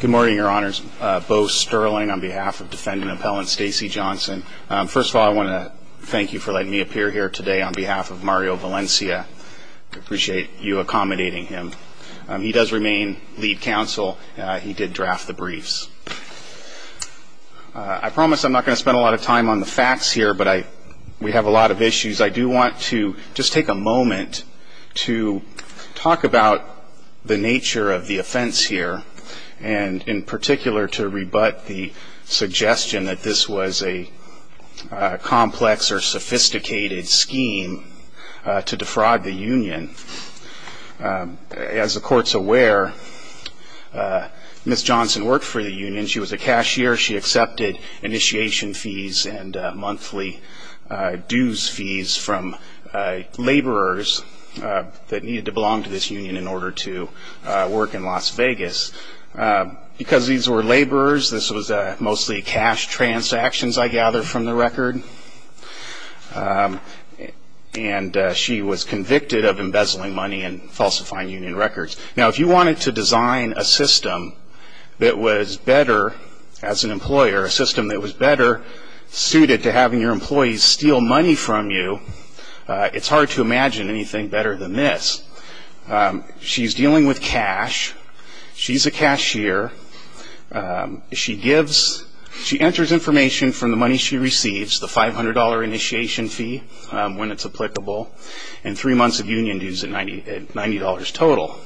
Good morning, your honors. Bo Sterling on behalf of defendant appellant Stacy Johnson. First of all, I want to thank you for letting me appear here today on behalf of Mario Valencia. I appreciate you accommodating him. He does remain lead counsel. He did draft the briefs. I promise I'm not going to spend a lot of time on the facts here, but we have a lot of issues. I do want to just take a moment to talk about the nature of the offense here. And in particular, to rebut the suggestion that this was a complex or sophisticated scheme to defraud the union. As the court's aware, Ms. Johnson worked for the union. She was a cashier. She accepted initiation fees and monthly dues fees from laborers that needed to belong to this union in order to work in Las Vegas. Because these were laborers, this was mostly cash transactions, I gather, from the record. And she was convicted of embezzling money and falsifying union records. Now, if you wanted to design a system that was better as an employer, a system that was better suited to having your employees steal money from you, it's hard to imagine anything better than this. She's dealing with cash. She's a cashier. She enters information from the money she receives, the $500 initiation fee when it's applicable, and three months of union dues at $90 total.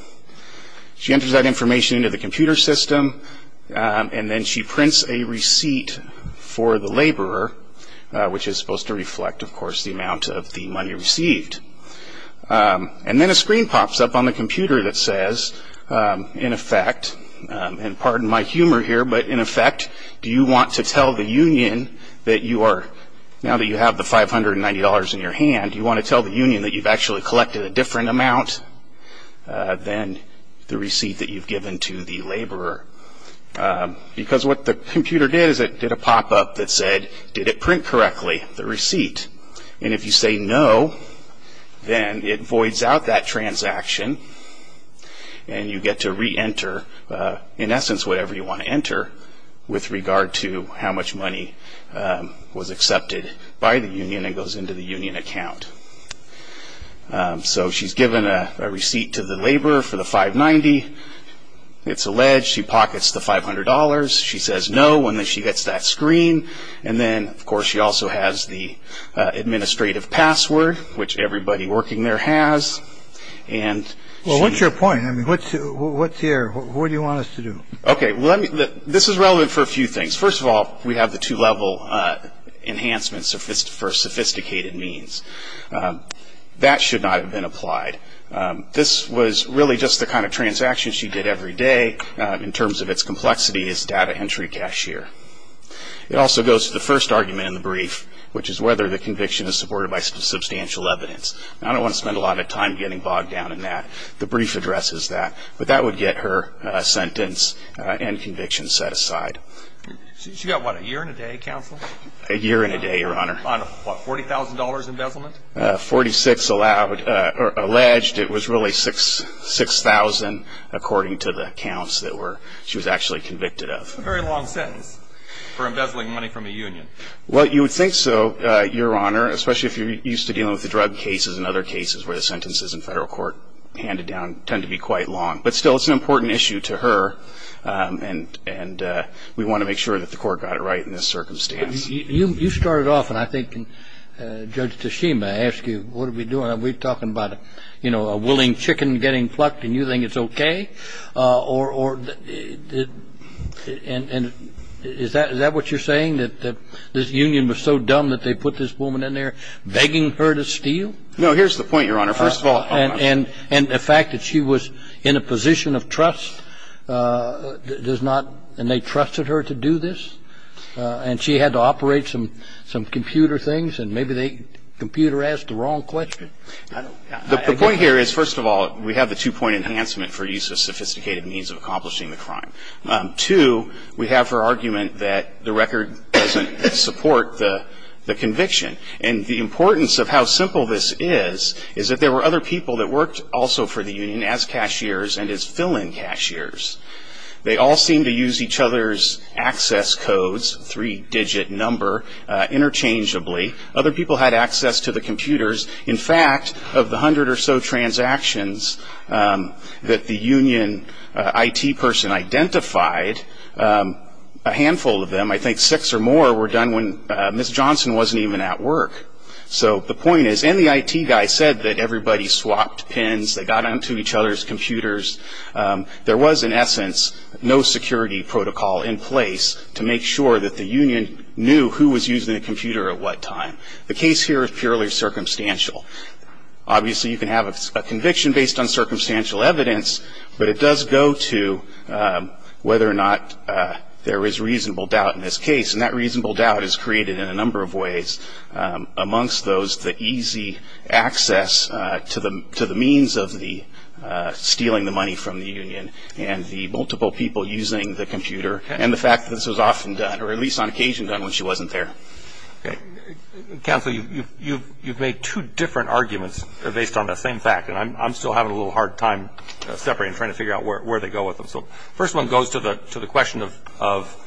She enters that information into the computer system, and then she prints a receipt for the laborer, which is supposed to reflect, of course, the amount of the money received. And then a screen pops up on the computer that says, in effect, and pardon my humor here, but in effect, do you want to tell the union that you are, now that you have the $590 in your hand, do you want to tell the union that you've actually collected a different amount than the receipt that you've given to the laborer? Because what the computer did is it did a pop-up that said, did it print correctly, the receipt? And if you say no, then it voids out that transaction, and you get to re-enter, in essence, whatever you want to enter with regard to how much money was accepted by the union and goes into the union account. So she's given a receipt to the laborer for the $590. It's alleged she pockets the $500. She says no, and then she gets that screen. And then, of course, she also has the administrative password, which everybody working there has. Well, what's your point? What's here? What do you want us to do? Okay, this is relevant for a few things. First of all, we have the two-level enhancements for sophisticated means. That should not have been applied. This was really just the kind of transaction she did every day in terms of its complexity as data entry cashier. It also goes to the first argument in the brief, which is whether the conviction is supported by substantial evidence. Now, I don't want to spend a lot of time getting bogged down in that. The brief addresses that. But that would get her sentence and conviction set aside. She got, what, a year and a day, counsel? A year and a day, Your Honor. On, what, $40,000 embezzlement? $46,000 alleged. It was really $6,000, according to the accounts that she was actually convicted of. That's a very long sentence for embezzling money from a union. Well, you would think so, Your Honor, especially if you're used to dealing with the drug cases and other cases where the sentences in federal court handed down tend to be quite long. But still, it's an important issue to her, and we want to make sure that the court got it right in this circumstance. You started off, and I think Judge Tashima asked you, what are we doing? Are we talking about, you know, a willing chicken getting plucked and you think it's okay? Or is that what you're saying, that this union was so dumb that they put this woman in there begging her to steal? No, here's the point, Your Honor, first of all. And the fact that she was in a position of trust does not, and they trusted her to do this, and she had to operate some computer things, and maybe the computer asked the wrong question. The point here is, first of all, we have the two-point enhancement for use of sophisticated means of accomplishing the crime. Two, we have her argument that the record doesn't support the conviction. And the importance of how simple this is, is that there were other people that worked also for the union as cashiers and as fill-in cashiers. They all seemed to use each other's access codes, three-digit number, interchangeably. Other people had access to the computers. In fact, of the hundred or so transactions that the union IT person identified, a handful of them, I think six or more, were done when Ms. Johnson wasn't even at work. So the point is, and the IT guy said that everybody swapped pins, they got onto each other's computers. There was, in essence, no security protocol in place to make sure that the union knew who was using the computer at what time. The case here is purely circumstantial. Obviously, you can have a conviction based on circumstantial evidence, but it does go to whether or not there is reasonable doubt in this case. And that reasonable doubt is created in a number of ways. Amongst those, the easy access to the means of the stealing the money from the union, and the multiple people using the computer, and the fact that this was often done, or at least on occasion done, when she wasn't there. Counsel, you've made two different arguments based on that same fact, and I'm still having a little hard time separating and trying to figure out where they go with them. So the first one goes to the question of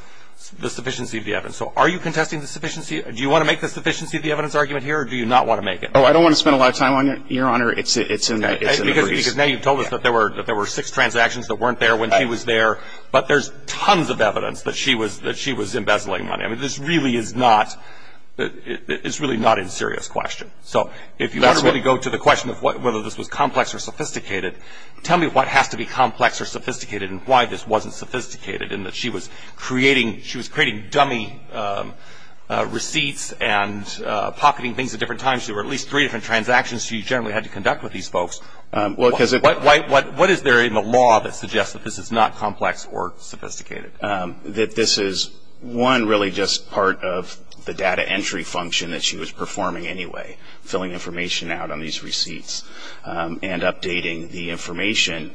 the sufficiency of the evidence. So are you contesting the sufficiency? Do you want to make the sufficiency of the evidence argument here, or do you not want to make it? Oh, I don't want to spend a lot of time on it, Your Honor. It's an abreast. Because now you've told us that there were six transactions that weren't there when she was there, but there's tons of evidence that she was embezzling money. I mean, this really is not, it's really not a serious question. Tell me what has to be complex or sophisticated and why this wasn't sophisticated, in that she was creating dummy receipts and pocketing things at different times. There were at least three different transactions she generally had to conduct with these folks. What is there in the law that suggests that this is not complex or sophisticated? That this is, one, really just part of the data entry function that she was performing anyway, filling information out on these receipts and updating the information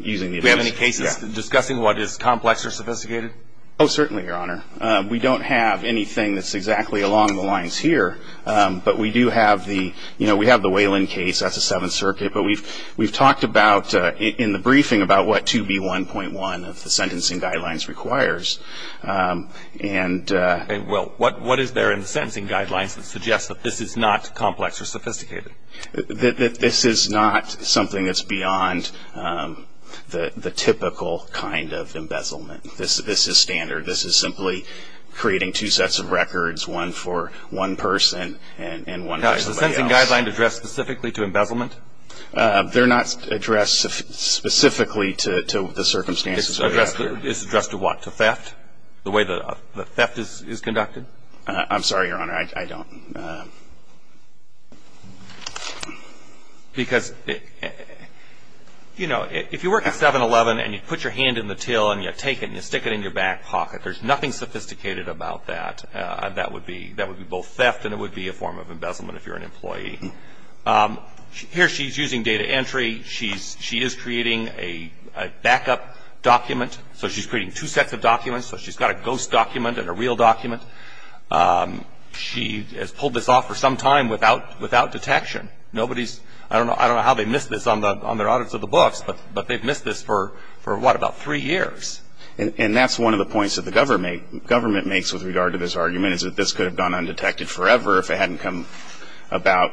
using the evidence. Do we have any cases discussing what is complex or sophisticated? Oh, certainly, Your Honor. We don't have anything that's exactly along the lines here, but we do have the, you know, we have the Whalen case, that's the Seventh Circuit, but we've talked about in the briefing about what 2B1.1 of the sentencing guidelines requires. Well, what is there in the sentencing guidelines that suggests that this is not complex or sophisticated? That this is not something that's beyond the typical kind of embezzlement. This is standard. This is simply creating two sets of records, one for one person and one for somebody else. Now, is the sentencing guideline addressed specifically to embezzlement? They're not addressed specifically to the circumstances. It's addressed to what, to theft, the way that the theft is conducted? I'm sorry, Your Honor, I don't. Because, you know, if you work at 7-Eleven and you put your hand in the till and you take it and you stick it in your back pocket, there's nothing sophisticated about that. That would be both theft and it would be a form of embezzlement if you're an employee. Here she's using data entry. She is creating a backup document. So she's creating two sets of documents. So she's got a ghost document and a real document. She has pulled this off for some time without detection. I don't know how they missed this on their audits of the books, but they've missed this for, what, about three years. And that's one of the points that the government makes with regard to this argument is that this could have gone undetected forever if it hadn't come about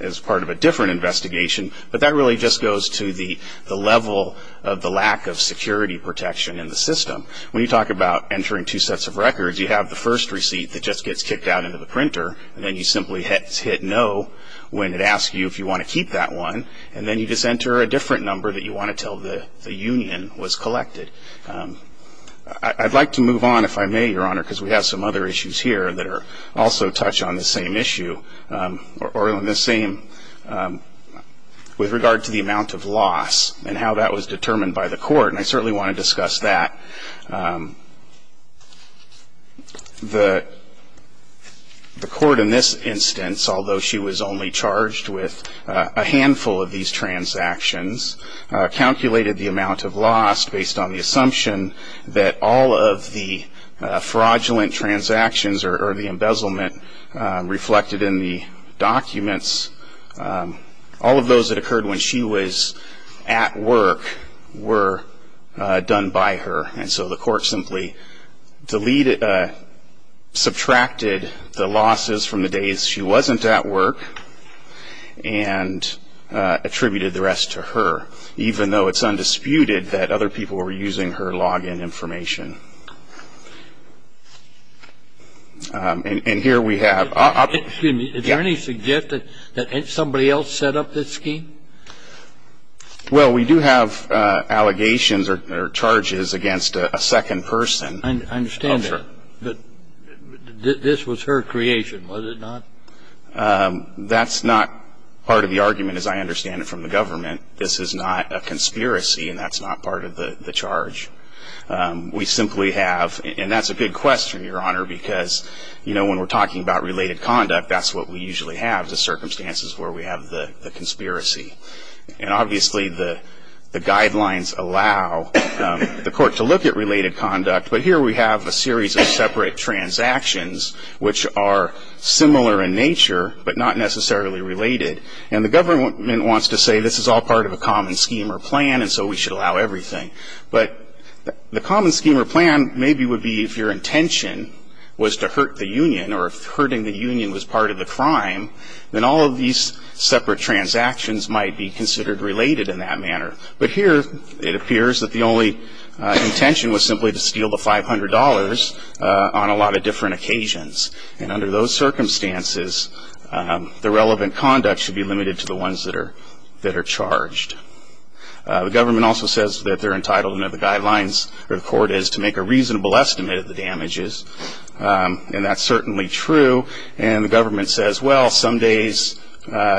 as part of a different investigation. But that really just goes to the level of the lack of security protection in the system. When you talk about entering two sets of records, you have the first receipt that just gets kicked out into the printer, and then you simply hit no when it asks you if you want to keep that one, and then you just enter a different number that you want to tell the union was collected. I'd like to move on, if I may, Your Honor, because we have some other issues here that also touch on the same issue, or on the same with regard to the amount of loss and how that was determined by the court, and I certainly want to discuss that. The court in this instance, although she was only charged with a handful of these transactions, calculated the amount of loss based on the assumption that all of the fraudulent transactions or the embezzlement reflected in the documents, all of those that occurred when she was at work were done by her. And so the court simply subtracted the losses from the days she wasn't at work and attributed the rest to her, even though it's undisputed that other people were using her log-in information. And here we have... Excuse me. Did you already suggest that somebody else set up this scheme? Well, we do have allegations or charges against a second person. I understand that. This was her creation, was it not? That's not part of the argument, as I understand it, from the government. This is not a conspiracy, and that's not part of the charge. We simply have, and that's a big question, Your Honor, because, you know, when we're talking about related conduct, that's what we usually have, the circumstances where we have the conspiracy. And obviously the guidelines allow the court to look at related conduct, but here we have a series of separate transactions, which are similar in nature but not necessarily related. And the government wants to say this is all part of a common scheme or plan and so we should allow everything. But the common scheme or plan maybe would be if your intention was to hurt the union or if hurting the union was part of the crime, then all of these separate transactions might be considered related in that manner. But here it appears that the only intention was simply to steal the $500 on a lot of different occasions. And under those circumstances, the relevant conduct should be limited to the ones that are charged. The government also says that they're entitled under the guidelines or the court is to make a reasonable estimate of the damages, and that's certainly true. And the government says, well, some days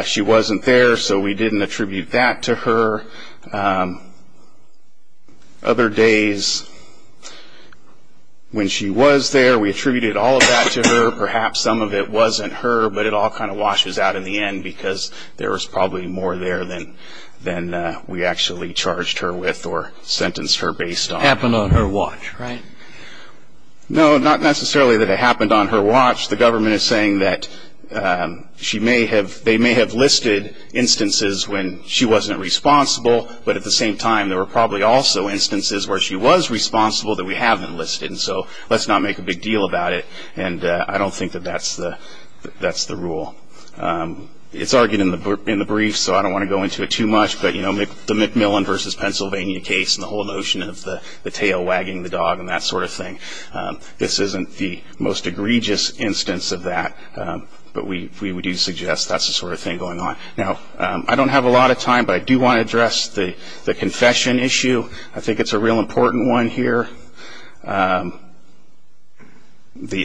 she wasn't there, so we didn't attribute that to her. Other days when she was there, we attributed all of that to her. Perhaps some of it wasn't her, but it all kind of washes out in the end because there was probably more there than we actually charged her with or sentenced her based on. Happened on her watch, right? No, not necessarily that it happened on her watch. The government is saying that they may have listed instances when she wasn't responsible, but at the same time there were probably also instances where she was responsible that we haven't listed, and so let's not make a big deal about it. And I don't think that that's the rule. It's argued in the brief, so I don't want to go into it too much, but the McMillan v. Pennsylvania case and the whole notion of the tail wagging the dog and that sort of thing, this isn't the most egregious instance of that, but we do suggest that's the sort of thing going on. Now, I don't have a lot of time, but I do want to address the confession issue. I think it's a real important one here. The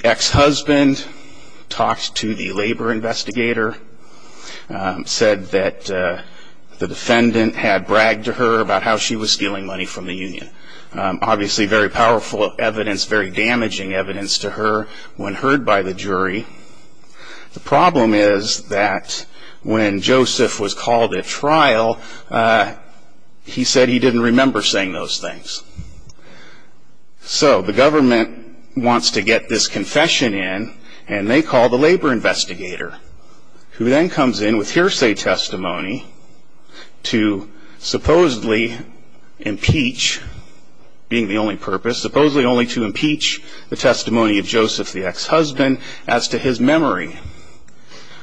ex-husband talked to the labor investigator, said that the defendant had bragged to her about how she was stealing money from the union. Obviously very powerful evidence, very damaging evidence to her when heard by the jury. The problem is that when Joseph was called at trial, he said he didn't remember saying those things. So the government wants to get this confession in, and they call the labor investigator, who then comes in with hearsay testimony to supposedly impeach, being the only purpose, supposedly only to impeach the testimony of Joseph, the ex-husband, as to his memory.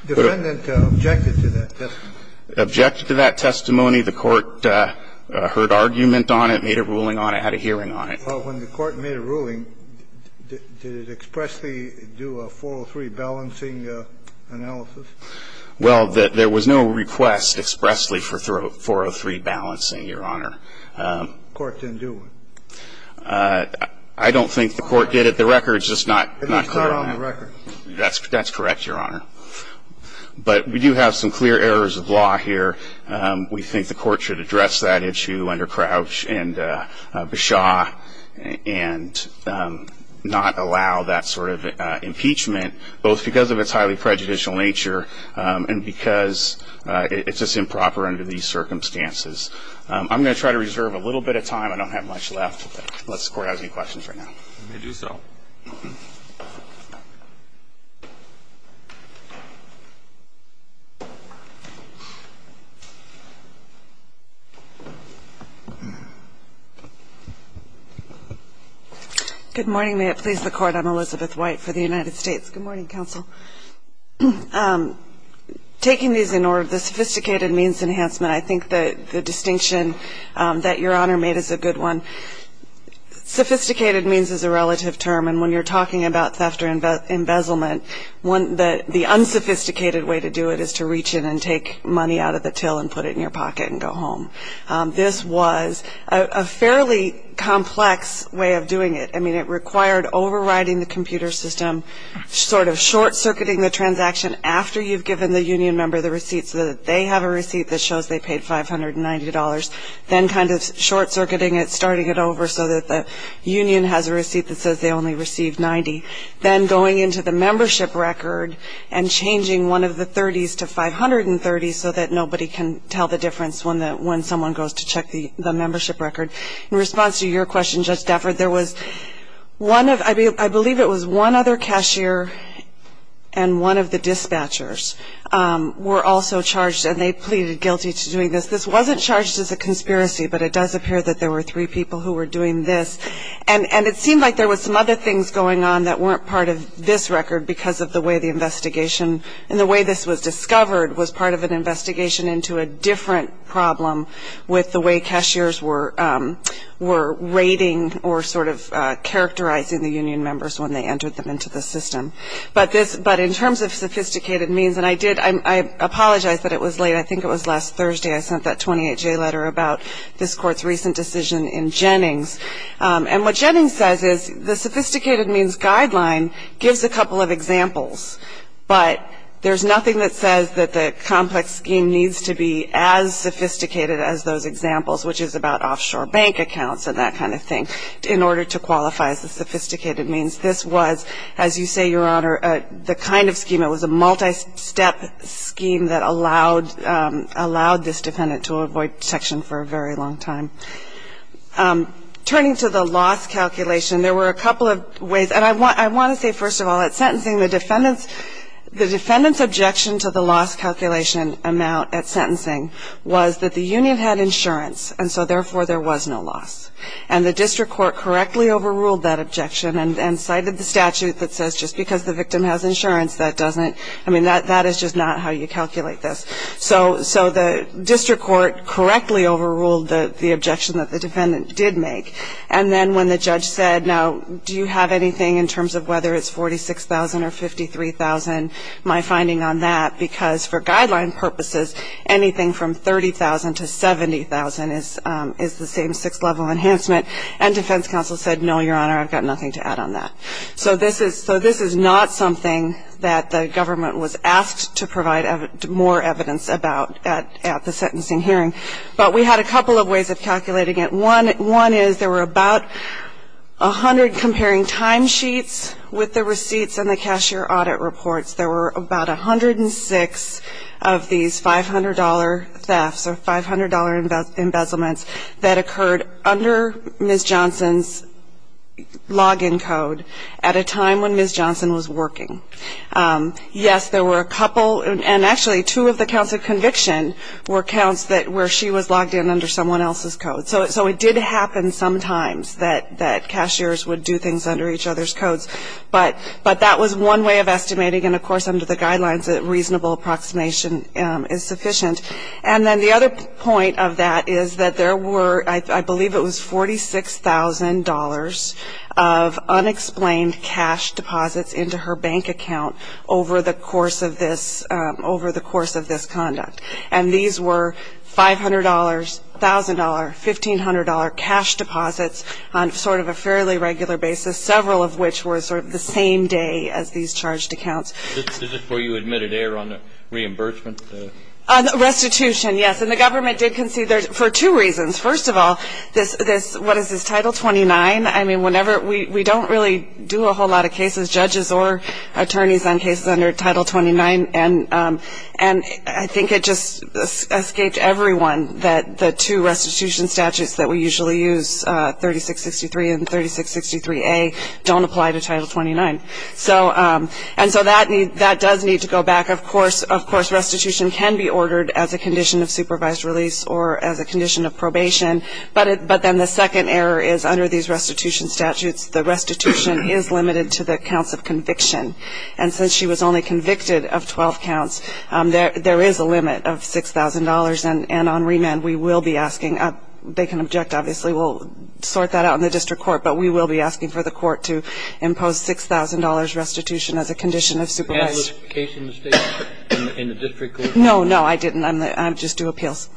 The defendant objected to that testimony. Objected to that testimony. The Court heard argument on it, made a ruling on it, had a hearing on it. Well, when the Court made a ruling, did it expressly do a 403 balancing analysis? Well, there was no request expressly for 403 balancing, Your Honor. The Court didn't do one. I don't think the Court did it. The record's just not clear on that. It's not on the record. That's correct, Your Honor. But we do have some clear errors of law here. We think the Court should address that issue under Crouch and Beshaw and not allow that sort of impeachment, both because of its highly prejudicial nature and because it's just improper under these circumstances. I'm going to try to reserve a little bit of time. I don't have much left unless the Court has any questions right now. Let me do so. Good morning. May it please the Court, I'm Elizabeth White for the United States. Good morning, Counsel. Taking these in order, the sophisticated means enhancement, I think the distinction that Your Honor made is a good one. Sophisticated means is a relative term, and when you're talking about theft or embezzlement, the unsophisticated way to do it is to reach in and take money out of the till and put it in your pocket and go home. This was a fairly complex way of doing it. I mean, it required overriding the computer system, sort of short-circuiting the transaction after you've given the union member the receipt so that they have a receipt that shows they paid $590, then kind of short-circuiting it, starting it over, so that the union has a receipt that says they only received 90, then going into the membership record and changing one of the 30s to 530 so that nobody can tell the difference when someone goes to check the membership record. In response to your question, Judge Stafford, I believe it was one other cashier and one of the dispatchers were also charged, and they pleaded guilty to doing this. This wasn't charged as a conspiracy, but it does appear that there were three people who were doing this. And it seemed like there were some other things going on that weren't part of this record because of the way the investigation and the way this was discovered was part of an investigation into a different problem with the way cashiers were rating or sort of characterizing the union members when they entered them into the system. But in terms of sophisticated means, and I apologize that it was late. I think it was last Thursday I sent that 28-J letter about this Court's recent decision in Jennings. And what Jennings says is the sophisticated means guideline gives a couple of examples, but there's nothing that says that the complex scheme needs to be as sophisticated as those examples, which is about offshore bank accounts and that kind of thing, in order to qualify as the sophisticated means. This was, as you say, Your Honor, the kind of scheme, it was a multi-step scheme that allowed this defendant to avoid detection for a very long time. Turning to the loss calculation, there were a couple of ways. And I want to say, first of all, at sentencing, the defendant's objection to the loss calculation amount at sentencing was that the union had insurance, and so therefore there was no loss. And the district court correctly overruled that objection and cited the statute that says just because the victim has insurance, that doesn't, I mean, that is just not how you calculate this. So the district court correctly overruled the objection that the defendant did make. And then when the judge said, now, do you have anything in terms of whether it's $46,000 or $53,000, my finding on that, because for guideline purposes, anything from $30,000 to $70,000 is the same six-level enhancement. And defense counsel said, no, Your Honor, I've got nothing to add on that. So this is not something that the government was asked to provide more evidence about at the sentencing hearing. But we had a couple of ways of calculating it. One is there were about 100 comparing timesheets with the receipts and the cashier audit reports. There were about 106 of these $500 thefts or $500 embezzlements that occurred under Ms. Johnson's login code at a time when Ms. Johnson was working. Yes, there were a couple, and actually two of the counts of conviction were counts where she was logged in under someone else's code. So it did happen sometimes that cashiers would do things under each other's codes. But that was one way of estimating, and, of course, under the guidelines a reasonable approximation is sufficient. And then the other point of that is that there were, I believe it was, $46,000 of unexplained cash deposits into her bank account over the course of this conduct. And these were $500, $1,000, $1,500 cash deposits on sort of a fairly regular basis, several of which were sort of the same day as these charged accounts. Is this before you admitted error on the reimbursement? Restitution, yes. And the government did concede for two reasons. First of all, this, what is this, Title 29? I mean, whenever we don't really do a whole lot of cases, judges or attorneys on cases under Title 29, and I think it just escaped everyone that the two restitution statutes that we usually use, 3663 and 3663A, don't apply to Title 29. And so that does need to go back. Of course, restitution can be ordered as a condition of supervised release or as a condition of probation. But then the second error is under these restitution statutes, the restitution is limited to the counts of conviction. And since she was only convicted of 12 counts, there is a limit of $6,000. And on remand, we will be asking, they can object, obviously. We'll sort that out in the district court. But we will be asking for the court to impose $6,000 restitution as a condition of supervised. Was there a case in the district court? No, no, I didn't. I just do appeals.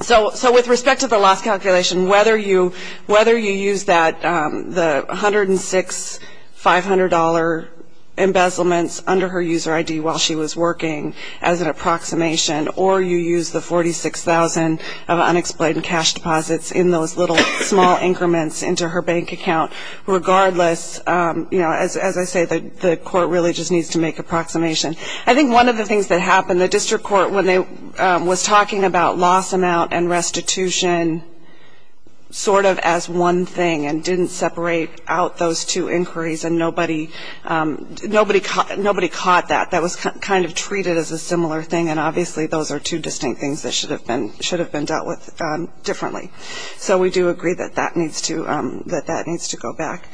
So with respect to the loss calculation, whether you use the $106,500 embezzlement under her user ID while she was working as an approximation, or you use the $46,000 of unexplained cash deposits in those little small increments into her bank account, regardless, as I say, the court really just needs to make an approximation. I think one of the things that happened, the district court was talking about loss amount and restitution sort of as one thing and didn't separate out those two inquiries, and nobody caught that. That was kind of treated as a similar thing, and obviously those are two distinct things that should have been dealt with differently. So we do agree that that needs to go back.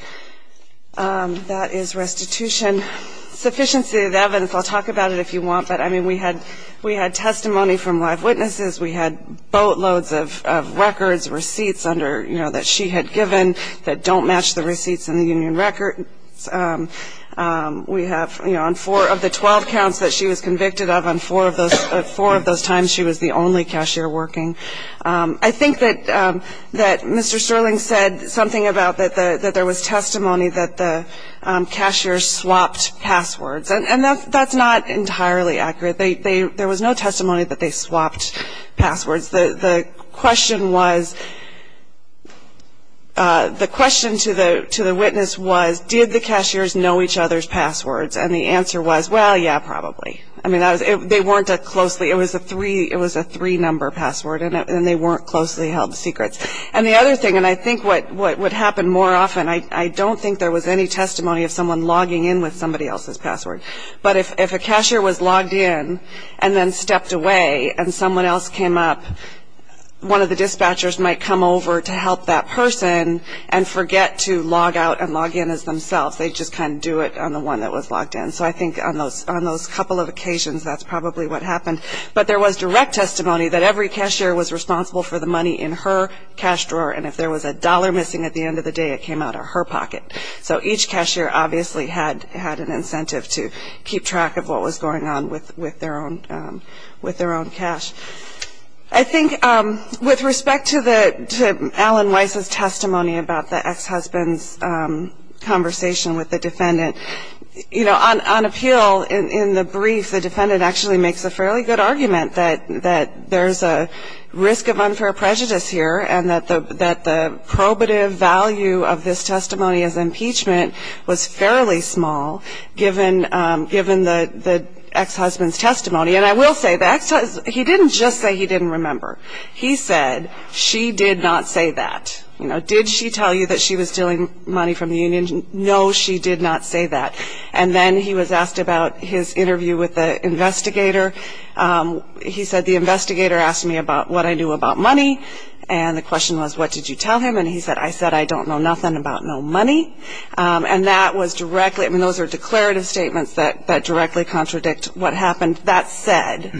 That is restitution. Sufficiency of evidence, I'll talk about it if you want, but, I mean, we had testimony from live witnesses. We had boatloads of records, receipts under, you know, that she had given that don't match the receipts in the union records. We have, you know, on four of the 12 counts that she was convicted of, on four of those times she was the only cashier working. I think that Mr. Sterling said something about that there was testimony that the cashiers swapped passwords, and that's not entirely accurate. There was no testimony that they swapped passwords. The question was, the question to the witness was, did the cashiers know each other's passwords? And the answer was, well, yeah, probably. I mean, they weren't that closely. It was a three-number password, and they weren't closely held secrets. And the other thing, and I think what would happen more often, I don't think there was any testimony of someone logging in with somebody else's password. But if a cashier was logged in and then stepped away and someone else came up, one of the dispatchers might come over to help that person and forget to log out and log in as themselves. They just kind of do it on the one that was logged in. So I think on those couple of occasions, that's probably what happened. But there was direct testimony that every cashier was responsible for the money in her cash drawer, and if there was a dollar missing at the end of the day, it came out of her pocket. So each cashier obviously had an incentive to keep track of what was going on with their own cash. I think with respect to Alan Weiss's testimony about the ex-husband's conversation with the defendant, on appeal, in the brief, the defendant actually makes a fairly good argument that there's a risk of unfair prejudice here and that the probative value of this testimony as impeachment was fairly small, given the ex-husband's testimony. And I will say, he didn't just say he didn't remember. He said, she did not say that. Did she tell you that she was stealing money from the union? No, she did not say that. And then he was asked about his interview with the investigator. He said, the investigator asked me about what I knew about money, and the question was, what did you tell him? And he said, I said, I don't know nothing about no money. And that was directly, I mean, those are declarative statements that directly contradict what happened. That said,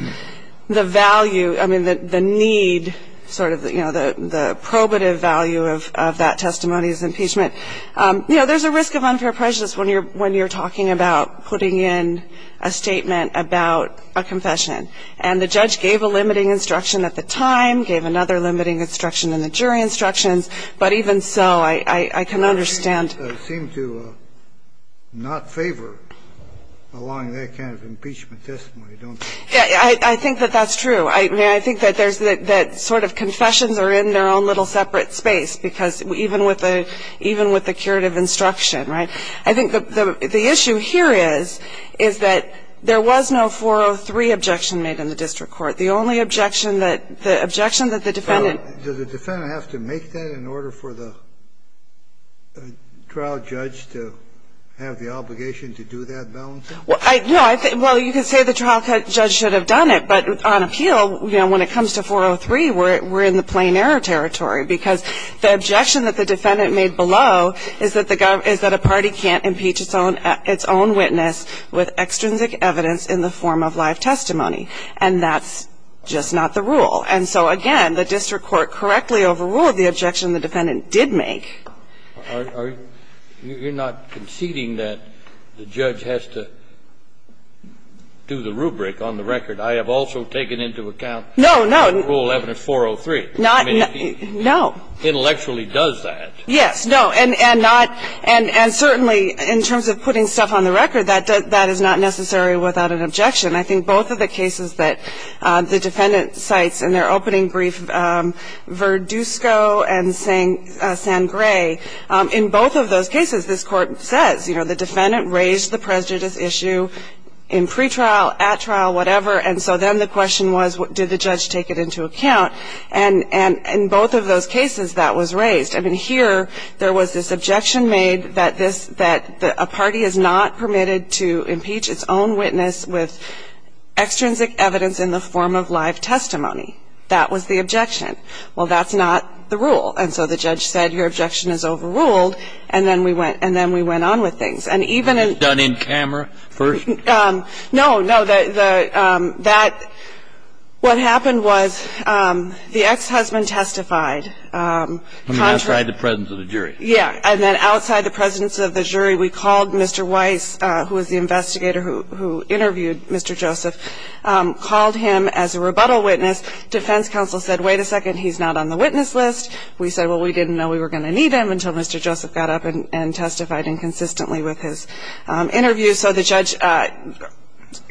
the value, I mean, the need sort of, you know, the probative value of that testimony is impeachment. You know, there's a risk of unfair prejudice when you're talking about putting in a statement about a confession. And the judge gave a limiting instruction at the time, gave another limiting instruction in the jury instructions. But even so, I can understand. Kennedy. I seem to not favor allowing that kind of impeachment testimony, don't I? I think that that's true. I mean, I think that there's that sort of confessions are in their own little separate space, because even with the curative instruction, right? I think the issue here is, is that there was no 403 objection made in the district court. The only objection that the defendant. Kennedy. Does the defendant have to make that in order for the trial judge to have the obligation to do that balancing? No. Well, you could say the trial judge should have done it, but on appeal, you know, when it comes to 403, we're in the plain error territory. Because the objection that the defendant made below is that a party can't impeach its own witness with extrinsic evidence in the form of live testimony. And that's just not the rule. And so, again, the district court correctly overruled the objection the defendant did make. You're not conceding that the judge has to do the rubric on the record. I have also taken into account rule evidence 403. No. Intellectually does that. Yes. No. And certainly in terms of putting stuff on the record, that is not necessary without an objection. I think both of the cases that the defendant cites in their opening brief, Verdusco and Sangre, in both of those cases, this Court says, you know, the defendant raised the prejudice issue in pretrial, at trial, whatever. And so then the question was, did the judge take it into account? And in both of those cases, that was raised. I mean, here, there was this objection made that a party is not permitted to impeach its own witness with extrinsic evidence in the form of live testimony. That was the objection. Well, that's not the rule. And so the judge said, your objection is overruled, and then we went on with things. And even in ---- That's done in camera first? No. No. What happened was the ex-husband testified. I mean, outside the presence of the jury. Yes. And then outside the presence of the jury, we called Mr. Weiss, who was the investigator who interviewed Mr. Joseph, called him as a rebuttal witness. Defense counsel said, wait a second, he's not on the witness list. We said, well, we didn't know we were going to need him until Mr. Joseph got up and testified inconsistently with his interview. So the judge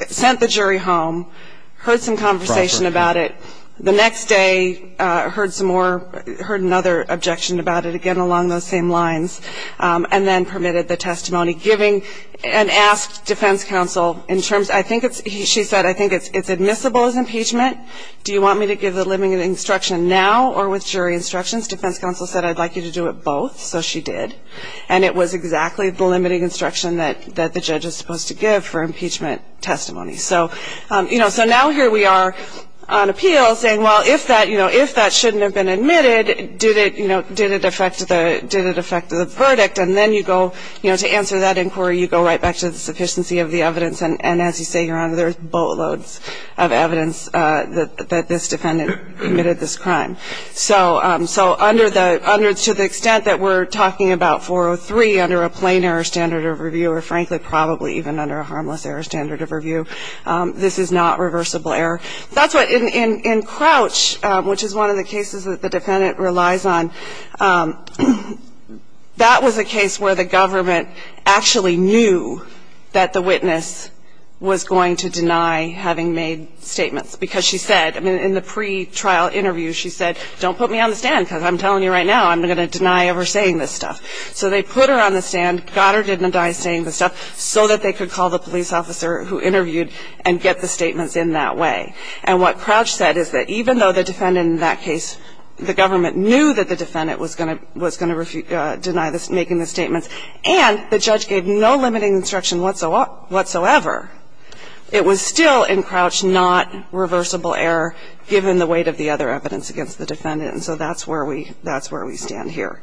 sent the jury home, heard some conversation about it. The next day, heard some more, heard another objection about it, again, along those same lines, and then permitted the testimony, giving and asked defense counsel in terms of ---- I think it's, she said, I think it's admissible as impeachment. Do you want me to give the limiting instruction now or with jury instructions? Defense counsel said, I'd like you to do it both. So she did. And it was exactly the limiting instruction that the judge is supposed to give for impeachment testimony. So, you know, so now here we are on appeal saying, well, if that, you know, if that shouldn't have been admitted, did it, you know, did it affect the, did it affect the verdict? And then you go, you know, to answer that inquiry, you go right back to the sufficiency of the evidence. And as you say, Your Honor, there's boatloads of evidence that this defendant committed this crime. So under the, to the extent that we're talking about 403 under a plain error standard of review, or frankly, probably even under a harmless error standard of review, this is not reversible error. That's what, in Crouch, which is one of the cases that the defendant relies on, that was a case where the government actually knew that the witness was going to deny having made statements, because she said, I mean, in the pretrial interview she said, don't put me on the stand, because I'm telling you right now I'm going to deny ever saying this stuff. So they put her on the stand, got her to deny saying the stuff, so that they could call the police officer who interviewed and get the statements in that way. And what Crouch said is that even though the defendant in that case, the government knew that the defendant was going to, was going to deny making the statements and the judge gave no limiting instruction whatsoever, it was still in Crouch not given the weight of the other evidence against the defendant. And so that's where we stand here.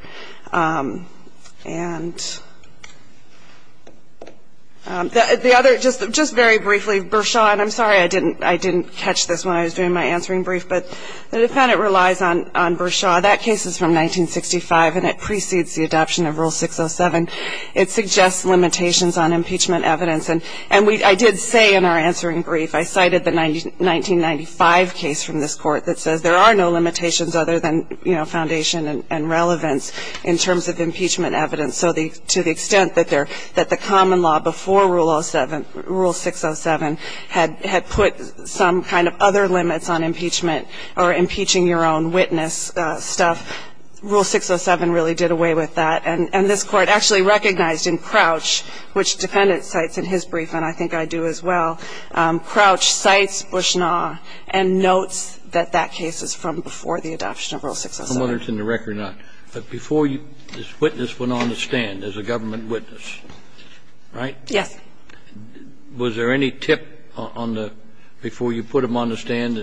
And the other, just very briefly, Bershaw, and I'm sorry I didn't catch this when I was doing my answering brief, but the defendant relies on Bershaw. That case is from 1965, and it precedes the adoption of Rule 607. It suggests limitations on impeachment evidence. And I did say in our answering brief, I cited the 1995 case from this court that says there are no limitations other than foundation and relevance in terms of impeachment evidence. So to the extent that the common law before Rule 607 had put some kind of other limits on impeachment or impeaching your own witness stuff, Rule 607 really did away with that. And this Court actually recognized in Crouch, which the defendant cites in his brief and I think I do as well, Crouch cites Bushnaw and notes that that case is from before the adoption of Rule 607. I'm wondering if it's in the record or not. But before you, this witness went on the stand as a government witness, right? Yes. Was there any tip on the, before you put him on the stand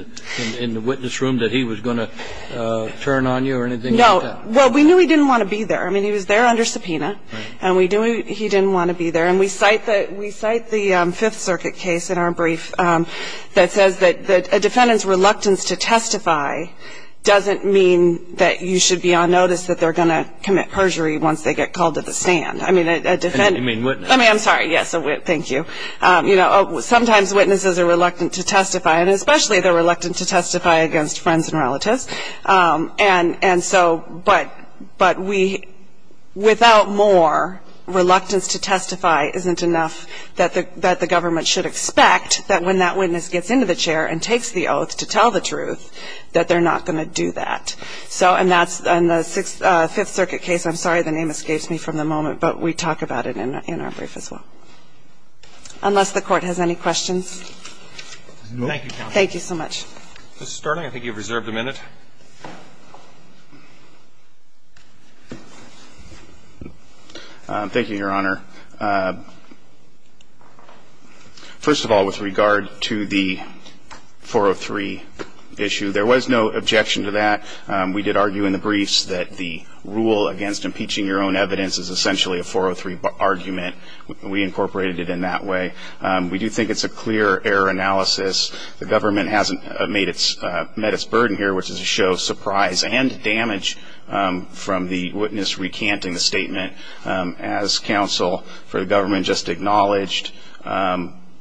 in the witness room, that he was going to turn on you or anything like that? Well, we knew he didn't want to be there. I mean, he was there under subpoena. Right. And we knew he didn't want to be there. And we cite the Fifth Circuit case in our brief that says that a defendant's reluctance to testify doesn't mean that you should be on notice that they're going to commit perjury once they get called to the stand. I mean, a defendant. You mean witness. I mean, I'm sorry. Yes, thank you. they're reluctant to testify against friends and relatives. And so, but we, without more, reluctance to testify isn't enough that the government should expect that when that witness gets into the chair and takes the oath to tell the truth, that they're not going to do that. So, and that's in the Fifth Circuit case. I'm sorry the name escapes me from the moment, but we talk about it in our brief as well. Unless the Court has any questions. No. Thank you, counsel. Thank you so much. Mr. Starling, I think you've reserved a minute. Thank you, Your Honor. First of all, with regard to the 403 issue, there was no objection to that. We did argue in the briefs that the rule against impeaching your own evidence is essentially a 403 argument. We incorporated it in that way. We do think it's a clear error analysis. The government hasn't met its burden here, which is to show surprise and damage from the witness recanting the statement. As counsel, for the government just acknowledged,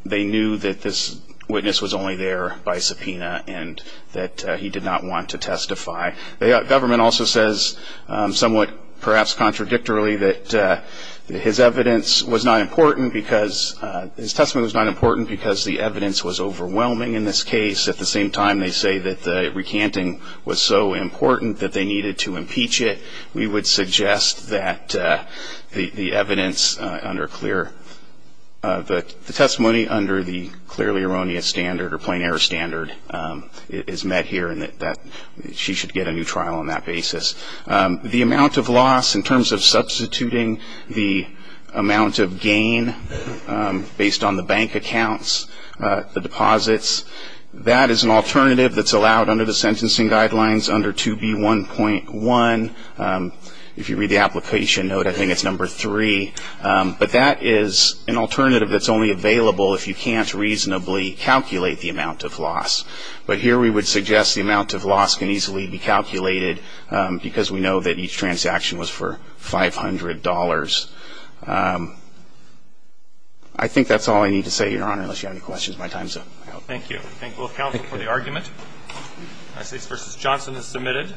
they knew that this witness was only there by subpoena and that he did not want to testify. The government also says, somewhat perhaps contradictorily, that his evidence was not important because the evidence was overwhelming in this case. At the same time, they say that the recanting was so important that they needed to impeach it. We would suggest that the testimony under the clearly erroneous standard or plain error standard is met here and that she should get a new trial on that basis. The amount of loss in terms of substituting the amount of gain based on the bank accounts, the deposits, that is an alternative that's allowed under the sentencing guidelines under 2B1.1. If you read the application note, I think it's number three. But that is an alternative that's only available if you can't reasonably calculate the amount of loss. But here we would suggest the amount of loss can easily be calculated because we know that each transaction was for $500. I think that's all I need to say, Your Honor, unless you have any questions. My time's up. Thank you. Thank both counsel for the argument. Assets v. Johnson is submitted.